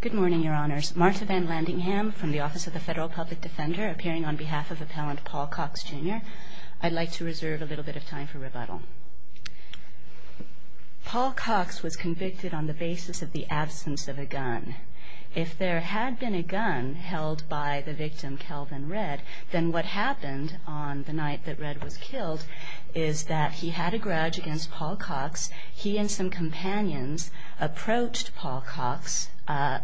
Good morning, Your Honors. Marta Van Landingham from the Office of the Federal Public Defender, appearing on behalf of Appellant Paul Cox, Jr. I'd like to reserve a little bit of time for rebuttal. Paul Cox was convicted on the basis of the absence of a gun. If there had been a gun held by the victim, Kelvin Redd, then what happened on the night that Redd was killed is that he had a gun in his hand, and Redd's companions approached Paul Cox,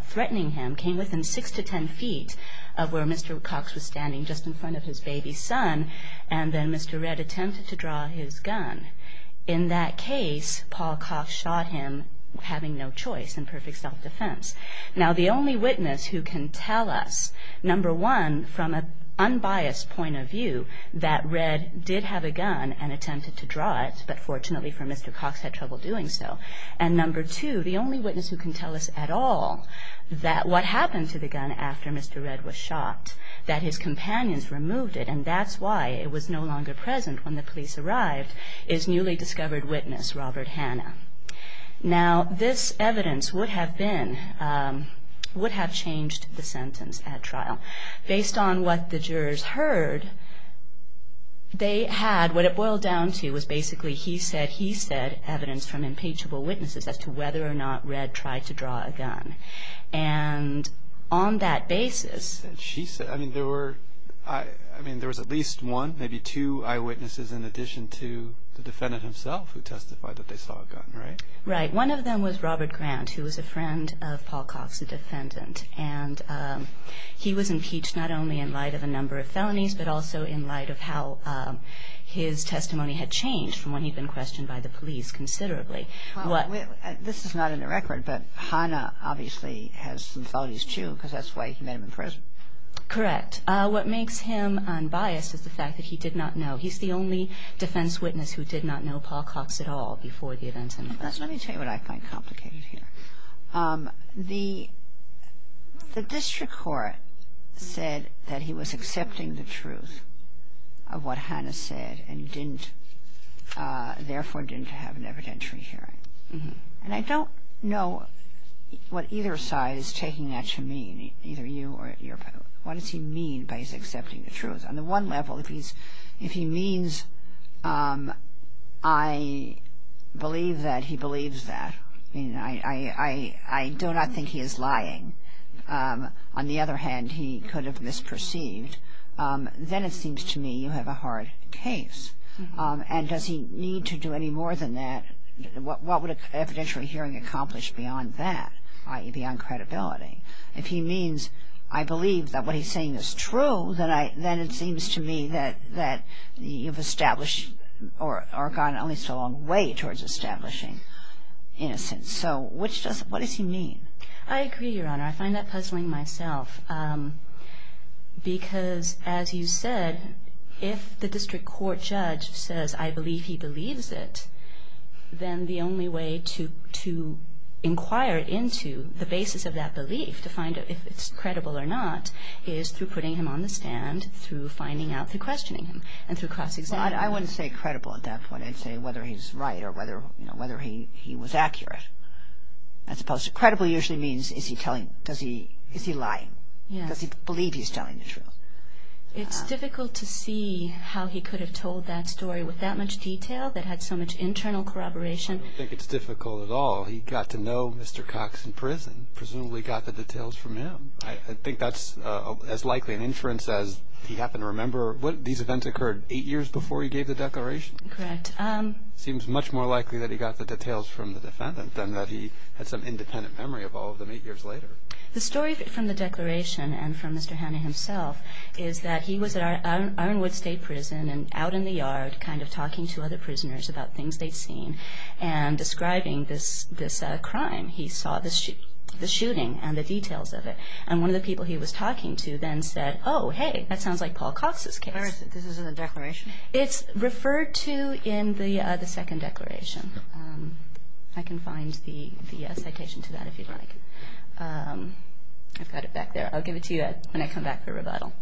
threatening him, came within six to ten feet of where Mr. Cox was standing just in front of his baby son, and then Mr. Redd attempted to draw his gun. In that case, Paul Cox shot him, having no choice, in perfect self-defense. Now, the only witness who can tell us, number one, from an unbiased point of view, that Redd did have a gun and attempted to draw it, but fortunately for Mr. Cox, had trouble doing so, is Mr. Redd. And number two, the only witness who can tell us at all, that what happened to the gun after Mr. Redd was shot, that his companions removed it, and that's why it was no longer present when the police arrived, is newly discovered witness, Robert Hanna. Now, this evidence would have been, would have changed the sentence at trial. Based on what the jurors heard, they had, what it boiled down to, was basically, he said, he said, evidence from impeachable witnesses. As to whether or not Redd tried to draw a gun. And on that basis... She said, I mean, there were, I mean, there was at least one, maybe two eyewitnesses in addition to the defendant himself who testified that they saw a gun, right? Right. One of them was Robert Grant, who was a friend of Paul Cox, the defendant. And he was impeached not only in light of a number of felonies, but also in light of how his testimony had changed from when he'd been questioned by the police considerably. This is not in the record, but Hanna obviously has some felonies, too, because that's why he made him in prison. Correct. What makes him unbiased is the fact that he did not know. He's the only defense witness who did not know Paul Cox at all before the event. Let me tell you what I find complicated here. The, the district court said that he was accepting the truth of what Hanna said and didn't, therefore, didn't have an evidentiary hearing. And I don't know what either side is taking that to mean, either you or your, what does he mean by he's accepting the truth? On the one level, if he's, if he means I believe that he believes that, I mean, I, I, I do not think he is lying. On the other hand, he could have misperceived. Then it seems to me you have a hard case. And does he need to do any more than that? What, what would an evidentiary hearing accomplish beyond that, i.e., beyond credibility? If he means I believe that what he's saying is true, then I, then it seems to me that, that you've established or, or gone at least a long way towards establishing innocence. So, which does, what does he mean? I agree, Your Honor. I find that puzzling myself. Because, as you said, if the district court judge says I believe he believes it, then the only way to, to inquire into the basis of that belief to find out if it's credible or not is through putting him on the stand, through finding out, through questioning him, and through cross-examining him. I, I wouldn't say credible at that point. I'd say whether he's right or whether, you know, whether he, he was accurate. As opposed to credible usually means is he telling, does he, is he lying? Yeah. Does he believe he's telling the truth? It's difficult to see how he could have told that story with that much detail that had so much internal corroboration. I don't think it's difficult at all. He got to know Mr. Cox in prison, presumably got the details from him. I, I think that's as likely an inference as he happened to remember. What, these events occurred eight years before he gave the declaration? Correct. Seems much more likely that he got the details from the defendant than that he had some independent memory of all of them eight years later. The story from the declaration and from Mr. Hanna himself is that he was at Ironwood State Prison and out in the yard kind of talking to other prisoners about things they'd seen and describing this, this crime. He saw the shooting and the details of it. And one of the people he was talking to then said, oh, hey, that sounds like Paul Cox's case. Where is it? This is in the declaration? It's referred to in the second declaration. I can find the citation to that if you'd like. I've got it back there. I'll give it to you when I come back for rebuttal.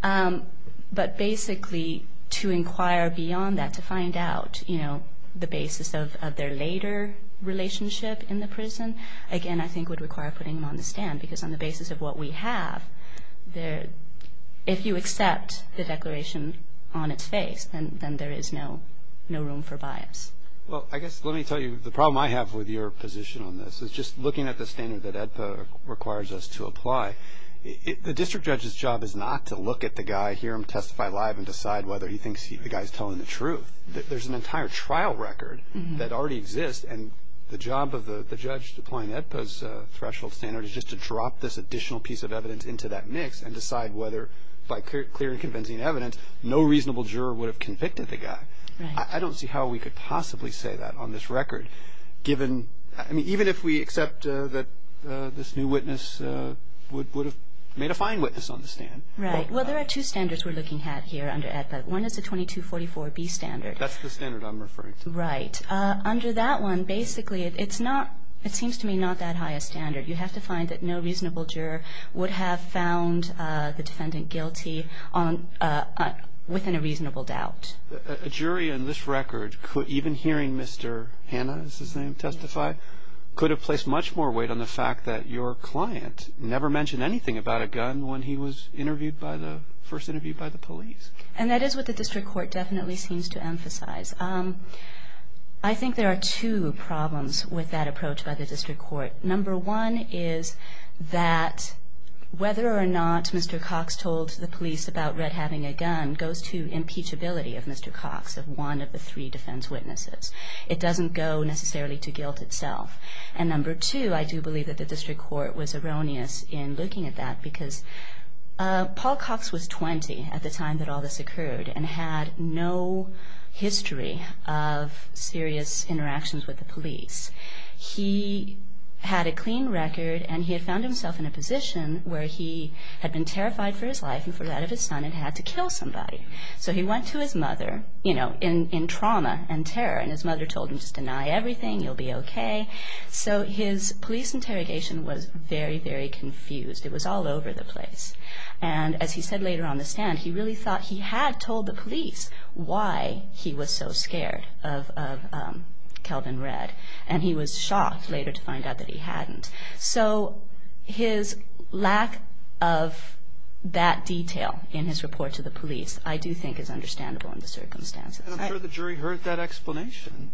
But basically, to inquire beyond that, to find out, you know, the basis of, of their later relationship in the prison, again, I think would require putting them on the stand. Because on the basis of what we have there, if you accept the declaration on its face, then, then there is no, no room for bias. Well, I guess, let me tell you, the problem I have with your position on this is just looking at the standard that AEDPA requires us to apply. The district judge's job is not to look at the guy, hear him testify live and decide whether he thinks the guy's telling the truth. There's an entire trial record that already exists. And the job of the judge deploying AEDPA's threshold standard is just to drop this additional piece of evidence into that mix and decide whether, by clear and convincing evidence, no reasonable juror would have convicted the guy. I don't see how we could possibly say that on this record, given, I mean, even if we accept that this new witness would have made a fine witness on the stand. Right. Well, there are two standards we're looking at here under AEDPA. One is the 2244B standard. That's the standard I'm referring to. Right. Under that one, basically, it's not, it seems to me not that high a standard. You have to find that no reasonable juror would have found the defendant guilty on, within a reasonable doubt. A jury in this record could, even hearing Mr. Hanna, is his name, testify, could have placed much more weight on the fact that your client never mentioned anything about a gun when he was interviewed by the, first interviewed by the police. And that is what the district court definitely seems to emphasize. I think there are two problems with that approach by the district court. Number one is that whether or not Mr. Cox told the police about Red having a gun goes to impeachability of Mr. Cox, of one of the three defense witnesses. It doesn't go necessarily to guilt itself. And number two, I do believe that the district court was erroneous in looking at that because Paul Cox was 20 at the time that all this occurred and had no history of serious interactions with the police. He had a clean record and he had found himself in a position where he had been terrified for his life and for that of his son and had to kill somebody. So he went to his mother, you know, in trauma and terror and his mother told him just deny everything, you'll be okay. So his police interrogation was very, very confused. It was all over the place. And as he said later on the stand, he really thought he had told the police why he was so scared of Kelvin Red. And he was shocked later to find out that he hadn't. So his lack of that detail in his report to the police I do think is understandable in the circumstances. And I'm sure the jury heard that explanation.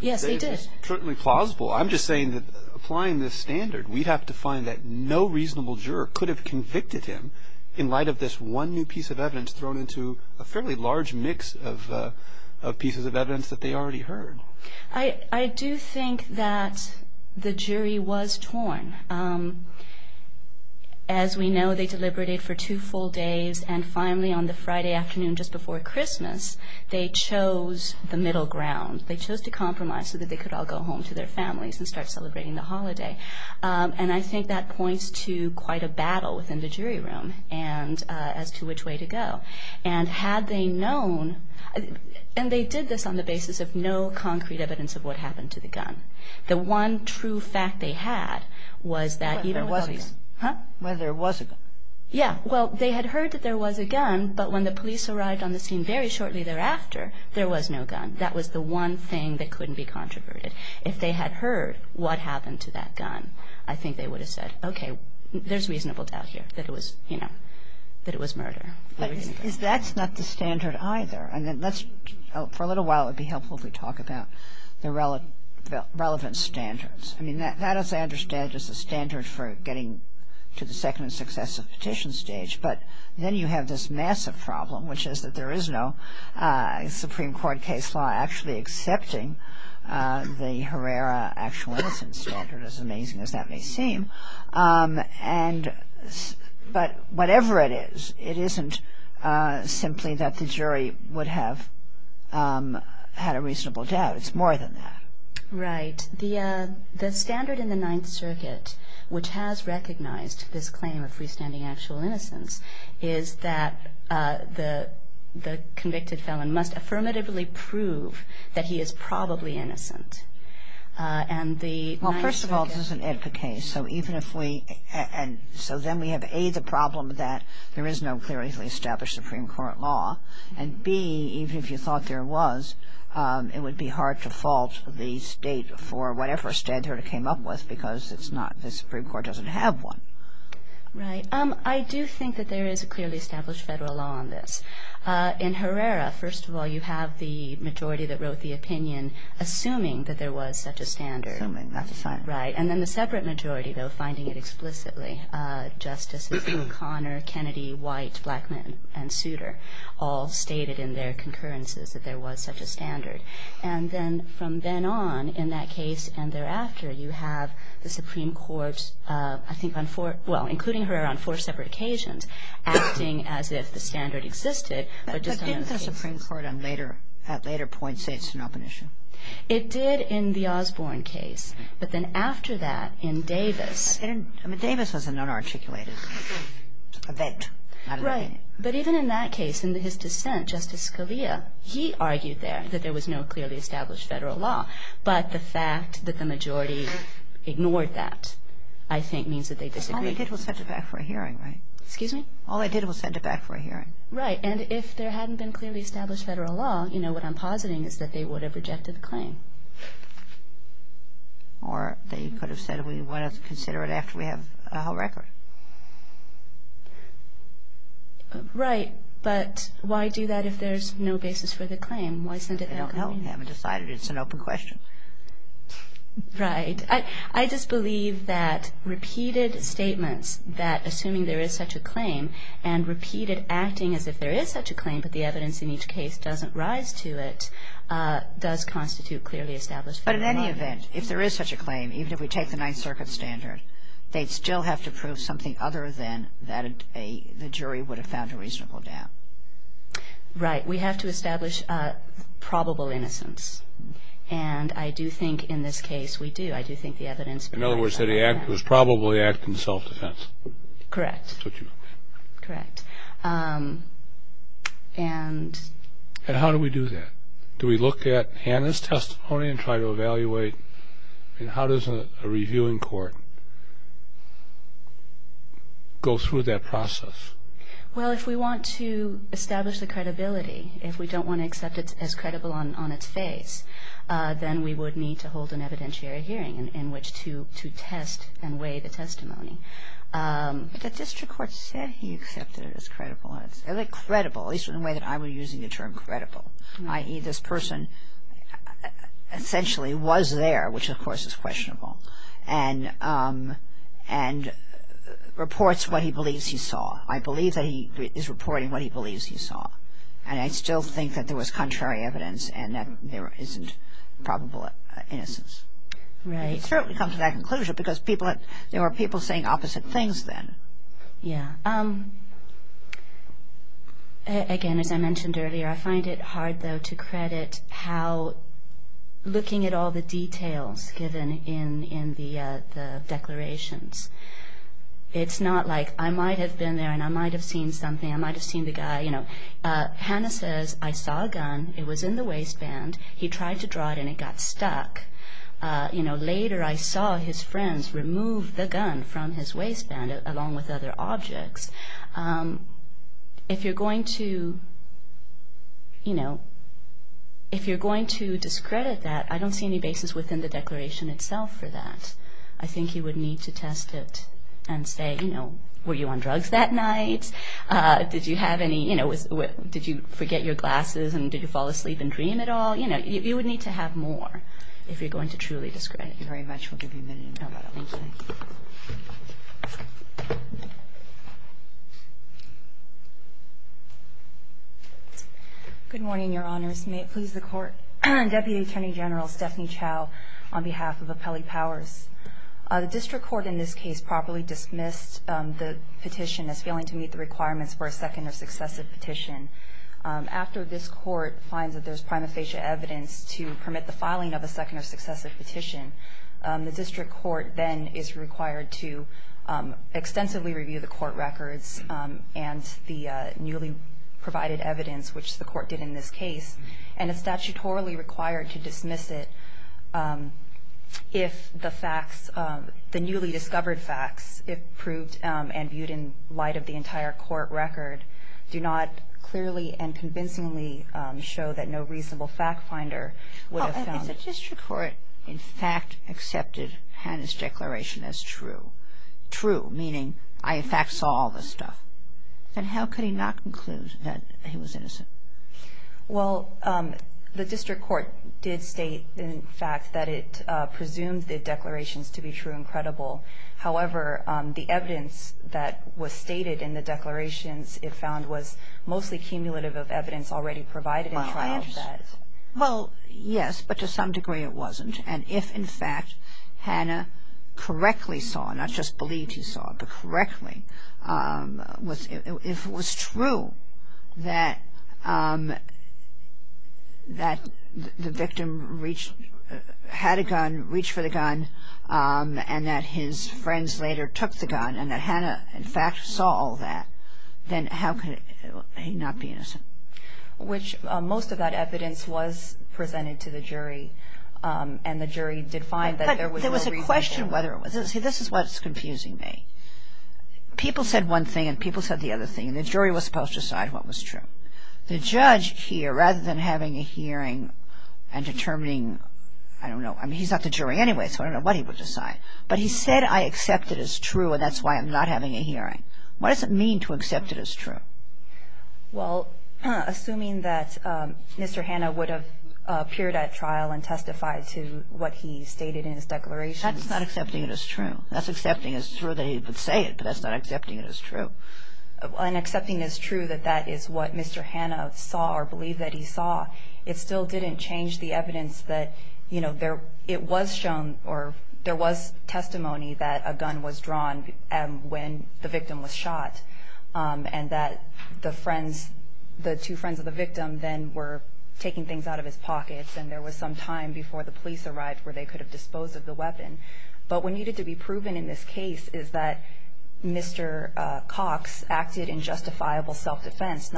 Yes, they did. It's certainly plausible. I'm just saying that applying this standard, we'd have to find that no reasonable juror could have convicted him in light of this one new piece of evidence thrown into a fairly large mix of pieces of evidence that they already heard. I do think that the jury was torn. As we know, they deliberated for two full days and finally on the Friday afternoon just before Christmas, they chose the middle ground. They chose to compromise so that they could all go home to their families and start celebrating the holiday. And I think that points to quite a battle within the jury room as to which way to go. And had they known, and they did this on the basis of no concrete evidence of what happened to the gun. The one true fact they had was that even with the police. But there was a gun. Huh? Well, there was a gun. Yeah. Well, they had heard that there was a gun, but when the police arrived on the scene very shortly thereafter, there was no gun. That was the one thing that couldn't be controverted. If they had heard what happened to that gun, I think they would have said, okay, there's reasonable doubt here that it was, you know, that it was murder. But that's not the standard either. And let's, for a little while, it would be helpful if we talk about the relevant standards. I mean, that, as I understand, is the standard for getting to the second successive petition stage. But then you have this massive problem, which is that there is no Supreme Court case law actually accepting the Herrera Actual Innocence Standard, as amazing as that may seem. And but whatever it is, it isn't simply that the jury would have had a reasonable doubt. It's more than that. Right. The standard in the Ninth Circuit, which has recognized this claim of freestanding actual innocence, is that the convicted felon must affirmatively prove that he is probably innocent. Well, first of all, this is an Edpa case. So even if we, and so then we have, A, the problem that there is no clearly established Supreme Court law, and, B, even if you thought there was, it would be hard to fault the state for whatever standard it came up with because it's not, the Supreme Court doesn't have one. Right. I do think that there is a clearly established federal law on this. In Herrera, first of all, you have the majority that wrote the opinion assuming that there was such a standard. Assuming, that's fine. Right. And then the separate majority, though, finding it explicitly, Justice O'Connor, Kennedy, White, Blackmun, and Souter, all stated in their concurrences that there was such a standard. And then from then on, in that case and thereafter, you have the Supreme Court, I think on four, well, including Herrera, on four separate occasions, acting as if the standard existed. But didn't the Supreme Court at later points say it's an open issue? It did in the Osborne case. But then after that, in Davis. I mean, Davis was a non-articulated event. Right. But even in that case, in his dissent, Justice Scalia, he argued there that there was no clearly established federal law. But the fact that the majority ignored that, I think, means that they disagreed. All they did was set it back for a hearing, right? Excuse me? All they did was send it back for a hearing. Right. And if there hadn't been clearly established federal law, you know, what I'm positing is that they would have rejected the claim. Or they could have said we want to consider it after we have a whole record. Right. But why do that if there's no basis for the claim? Why send it back? I don't know. We haven't decided. It's an open question. Right. I just believe that repeated statements that, assuming there is such a claim, and repeated acting as if there is such a claim, but the evidence in each case doesn't rise to it, does constitute clearly established federal law. But in any event, if there is such a claim, even if we take the Ninth Circuit standard, they'd still have to prove something other than that the jury would have found a reasonable doubt. Right. We have to establish probable innocence. And I do think in this case we do. I do think the evidence proves that. In other words, it was probably an act in self-defense. Correct. Correct. And how do we do that? Do we look at Hanna's testimony and try to evaluate, and how does a reviewing court go through that process? Well, if we want to establish the credibility, if we don't want to accept it as credible on its face, then we would need to hold an evidentiary hearing in which to test and weigh the testimony. But the district court said he accepted it as credible. And it's credible, at least in the way that I'm using the term credible, i.e., this person essentially was there, which, of course, is questionable, and reports what he believes he saw. I believe that he is reporting what he believes he saw. And I still think that there was contrary evidence and that there isn't probable innocence. Right. It certainly comes to that conclusion because there were people saying opposite things then. Yeah. Again, as I mentioned earlier, I find it hard, though, to credit how looking at all the details given in the declarations, it's not like I might have been there and I might have seen something, I might have seen the guy, you know. Hanna says, I saw a gun. It was in the waistband. He tried to draw it and it got stuck. You know, later I saw his friends remove the gun from his waistband along with other objects. If you're going to, you know, if you're going to discredit that, I don't see any basis within the declaration itself for that. I think you would need to test it and say, you know, were you on drugs that night? Did you have any, you know, did you forget your glasses and did you fall asleep and dream at all? You know, you would need to have more if you're going to truly discredit. Thank you very much. We'll give you a minute. All right. Thank you. Good morning, Your Honors. May it please the Court. Deputy Attorney General Stephanie Chow on behalf of Appellee Powers. The district court in this case properly dismissed the petition as failing to meet the requirements for a second or successive petition. After this court finds that there's prima facie evidence to permit the filing of a second or successive petition, the district court then is required to extensively review the court records and the newly provided evidence, which the court did in this case, and is statutorily required to dismiss it if the facts, the newly discovered facts, if proved and viewed in light of the entire court record, do not clearly and convincingly show that no reasonable fact finder would have found it. The district court, in fact, accepted Hannah's declaration as true. True, meaning I, in fact, saw all this stuff. Then how could he not conclude that he was innocent? Well, the district court did state, in fact, that it presumed the declarations to be true and credible. However, the evidence that was stated in the declarations, it found, was mostly cumulative of evidence already provided in trial for that. Well, yes, but to some degree it wasn't. And if, in fact, Hannah correctly saw, not just believed he saw, but correctly, if it was true that the victim had a gun, reached for the gun, and that his friends later took the gun, and that Hannah, in fact, saw all that, which most of that evidence was presented to the jury. And the jury did find that there was no reason for it. But there was a question whether it was. See, this is what's confusing me. People said one thing, and people said the other thing, and the jury was supposed to decide what was true. The judge here, rather than having a hearing and determining, I don't know, I mean, he's not the jury anyway, so I don't know what he would decide. But he said, I accept it as true, and that's why I'm not having a hearing. What does it mean to accept it as true? Well, assuming that Mr. Hannah would have appeared at trial and testified to what he stated in his declaration. That's not accepting it as true. That's accepting as true that he would say it, but that's not accepting it as true. And accepting as true that that is what Mr. Hannah saw or believed that he saw, it still didn't change the evidence that, you know, it was shown or there was testimony that a gun was drawn when the victim was shot, and that the two friends of the victim then were taking things out of his pockets, and there was some time before the police arrived where they could have disposed of the weapon. But what needed to be proven in this case is that Mr. Cox acted in justifiable self-defense.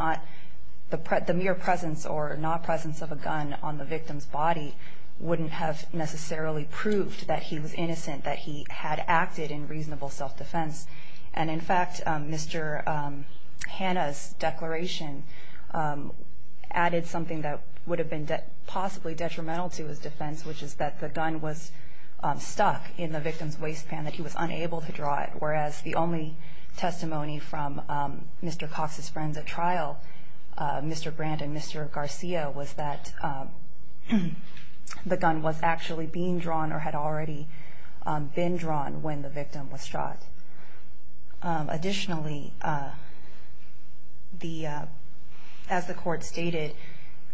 The mere presence or not presence of a gun on the victim's body wouldn't have necessarily proved that he was innocent, that he had acted in reasonable self-defense. And, in fact, Mr. Hannah's declaration added something that would have been possibly detrimental to his defense, which is that the gun was stuck in the victim's waistband, that he was unable to draw it, whereas the only testimony from Mr. Cox's friends at trial, Mr. Brandt and Mr. Garcia, was that the gun was actually being drawn or had already been drawn when the victim was shot. Additionally, as the court stated,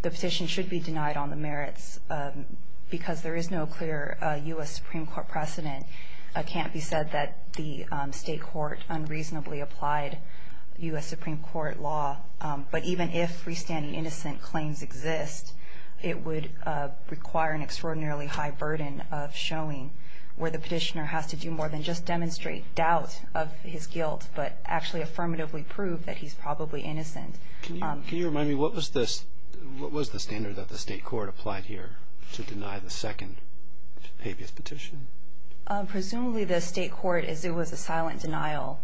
the petition should be denied on the merits because there is no clear U.S. Supreme Court precedent. It can't be said that the state court unreasonably applied U.S. Supreme Court law, but even if freestanding innocent claims exist, it would require an extraordinarily high burden of showing where the petitioner has to do more than just demonstrate doubt of his guilt but actually affirmatively prove that he's probably innocent. Can you remind me, what was the standard that the state court applied here to deny the second habeas petition? Presumably the state court, as it was a silent denial,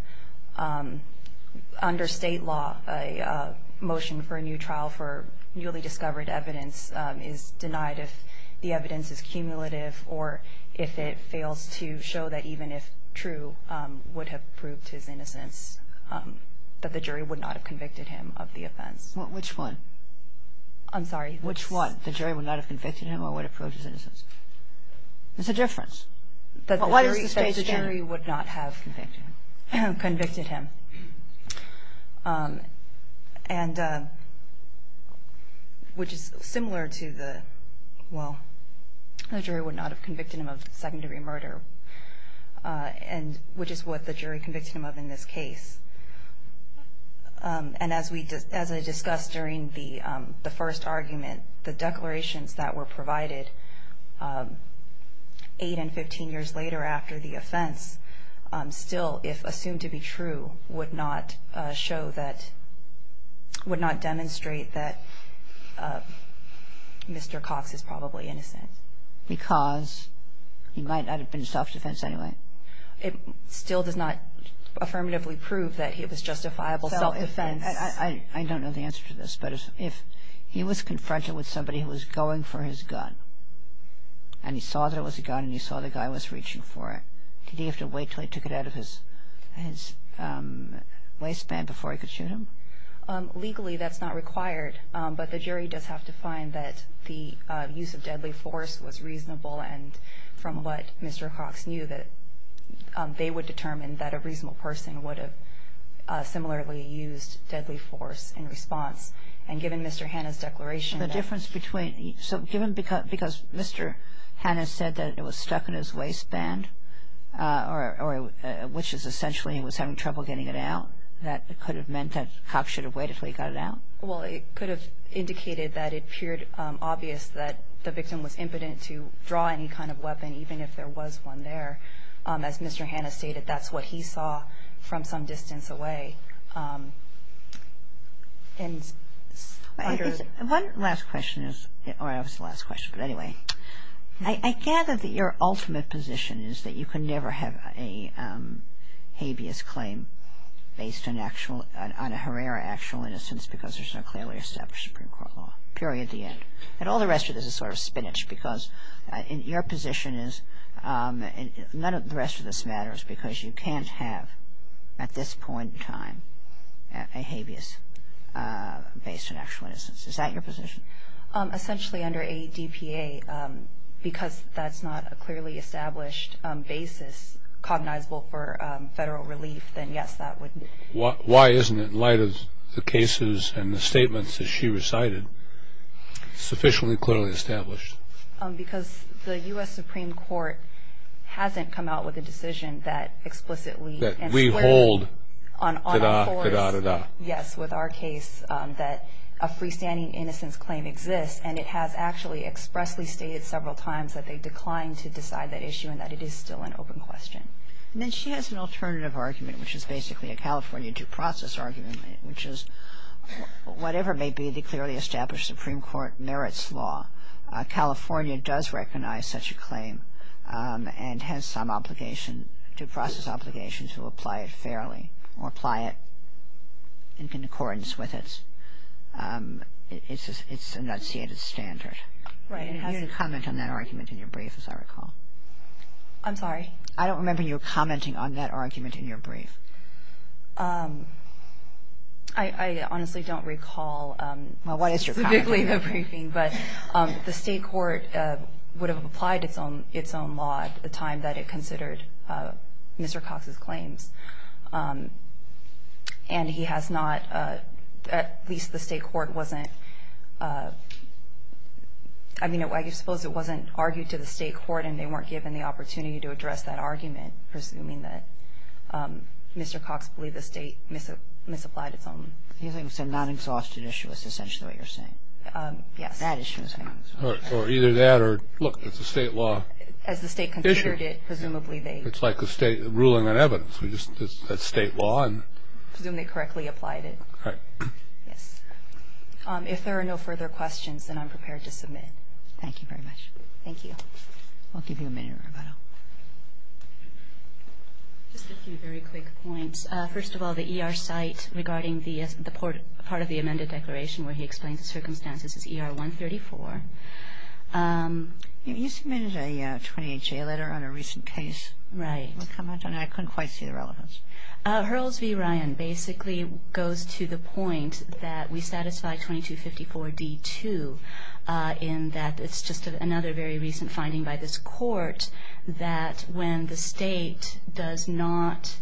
under state law, a motion for a new trial for newly discovered evidence is denied if the evidence is cumulative or if it fails to show that even if true, would have proved his innocence, that the jury would not have convicted him of the offense. Which one? I'm sorry? Which one? The jury would not have convicted him or would have proved his innocence? It's a difference. But why does the state stand? The jury would not have convicted him. And which is similar to the, well, the jury would not have convicted him of second-degree murder, which is what the jury convicted him of in this case. And as I discussed during the first argument, the declarations that were provided 8 and 15 years later after the offense still, if assumed to be true, would not show that, would not demonstrate that Mr. Cox is probably innocent. Because he might not have been self-defense anyway. It still does not affirmatively prove that it was justifiable self-defense. I don't know the answer to this, but if he was confronted with somebody who was going for his gun and he saw that it was a gun and he saw the guy was reaching for it, did he have to wait until he took it out of his waistband before he could shoot him? Legally, that's not required, but the jury does have to find that the use of deadly force was reasonable and from what Mr. Cox knew that they would determine that a reasonable person would have similarly used deadly force in response. And given Mr. Hanna's declaration that the difference between, so given because Mr. Hanna said that it was stuck in his waistband, which is essentially he was having trouble getting it out, that could have meant that Cox should have waited until he got it out? Well, it could have indicated that it appeared obvious that the victim was impotent to draw any kind of weapon, even if there was one there. As Mr. Hanna stated, that's what he saw from some distance away. One last question, or it was the last question, but anyway. I gather that your ultimate position is that you can never have a habeas claim based on a Herrera actual innocence because there's no clearly established Supreme Court law, period, the end. And all the rest of this is sort of spinach, because your position is none of the rest of this matters because you can't have at this point in time a habeas based on actual innocence. Is that your position? Essentially under ADPA, because that's not a clearly established basis cognizable for federal relief, then yes, that would be. Why isn't it, in light of the cases and the statements that she recited, sufficiently clearly established? Because the U.S. Supreme Court hasn't come out with a decision that explicitly and squarely That we hold, da-da, da-da, da-da. Yes, with our case that a freestanding innocence claim exists, and it has actually expressly stated several times that they declined to decide that issue and that it is still an open question. Then she has an alternative argument, which is basically a California due process argument, which is whatever may be the clearly established Supreme Court merits law, California does recognize such a claim and has some obligation, due process obligation, to apply it fairly or apply it in accordance with its enunciated standard. You didn't comment on that argument in your brief, as I recall. I'm sorry? I don't remember you commenting on that argument in your brief. I honestly don't recall specifically the briefing, but the state court would have applied its own law at the time that it considered Mr. Cox's claims. And he has not, at least the state court wasn't, I mean, I suppose it wasn't argued to the state court and they weren't given the opportunity to address that argument, presuming that Mr. Cox believed the state misapplied its own. You're saying it's a non-exhausted issue is essentially what you're saying. Yes. That issue. Or either that or, look, it's a state law issue. As the state considered it, presumably they It's like the state ruling on evidence. That's state law. Presumably correctly applied it. Right. Yes. If there are no further questions, then I'm prepared to submit. Thank you very much. Thank you. I'll give you a minute, Roberto. Just a few very quick points. First of all, the ER site regarding the part of the amended declaration where he explains the circumstances is ER 134. You submitted a 28-J letter on a recent case. Right. I couldn't quite see the relevance. Hurls v. Ryan basically goes to the point that we satisfy 2254d-2 in that it's just another very recent finding by this court that when the state does not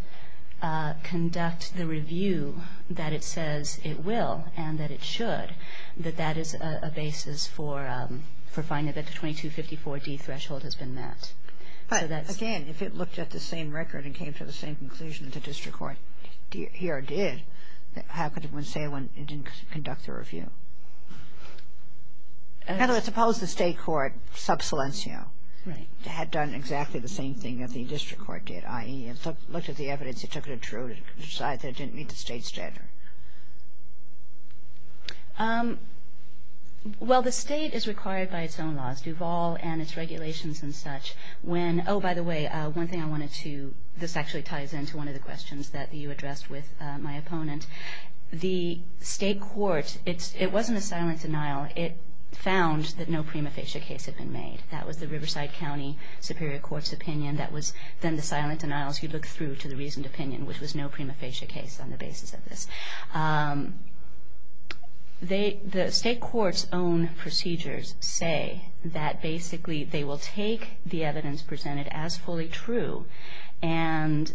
conduct the review that it says it will and that it should, that that is a basis for finding that the 2254d threshold has been met. But, again, if it looked at the same record and came to the same conclusion that the district court here did, how could it say it didn't conduct the review? In other words, suppose the state court, sub silencio, had done exactly the same thing that the district court did, i.e., looked at the evidence, it took it to decide that it didn't meet the state standard. Well, the state is required by its own laws, Duval and its regulations and such, when, oh, by the way, one thing I wanted to, this actually ties into one of the questions that you addressed with my opponent. The state court, it wasn't a silent denial. It found that no prima facie case had been made. That was the Riverside County Superior Court's opinion. That was then the silent denial as you look through to the reasoned opinion, which was no prima facie case on the basis of this. The state court's own procedures say that, basically, they will take the evidence presented as fully true, and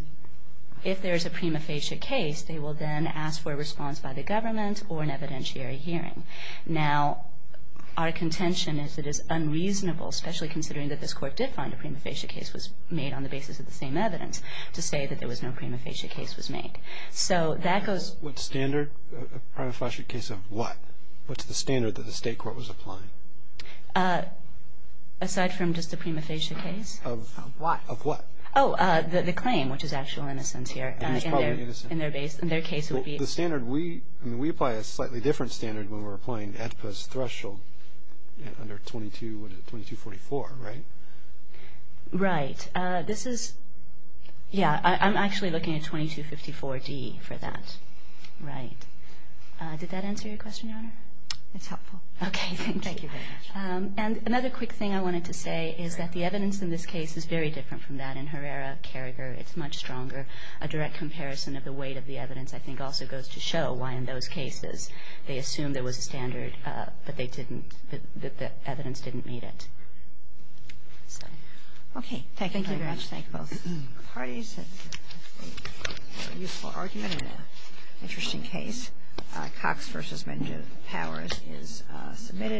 if there is a prima facie case, they will then ask for a response by the government or an evidentiary hearing. Now, our contention is it is unreasonable, especially considering that this court did find a prima facie case was made on the basis of the same evidence, to say that there was no prima facie case was made. So that goes... What standard? A prima facie case of what? What's the standard that the state court was applying? Aside from just a prima facie case? Of what? Of what? Oh, the claim, which is actual innocence here. It is probably innocence. In their case, it would be... The standard, we apply a slightly different standard when we're applying AEDPA's threshold under 22, what is it, 2244, right? Right. This is... Yeah, I'm actually looking at 2254D for that. Right. Did that answer your question, Your Honor? It's helpful. Okay, thank you. Thank you very much. And another quick thing I wanted to say is that the evidence in this case is very different from that in Herrera, Carragher. It's much stronger. A direct comparison of the weight of the evidence, I think, also goes to show why in those cases they assumed there was a standard, but they didn't, the evidence didn't meet it. So... Okay. Thank you very much. Thank you very much. Thank both parties. It's a useful argument and an interesting case. Cox v. Menjiv Powers is submitted.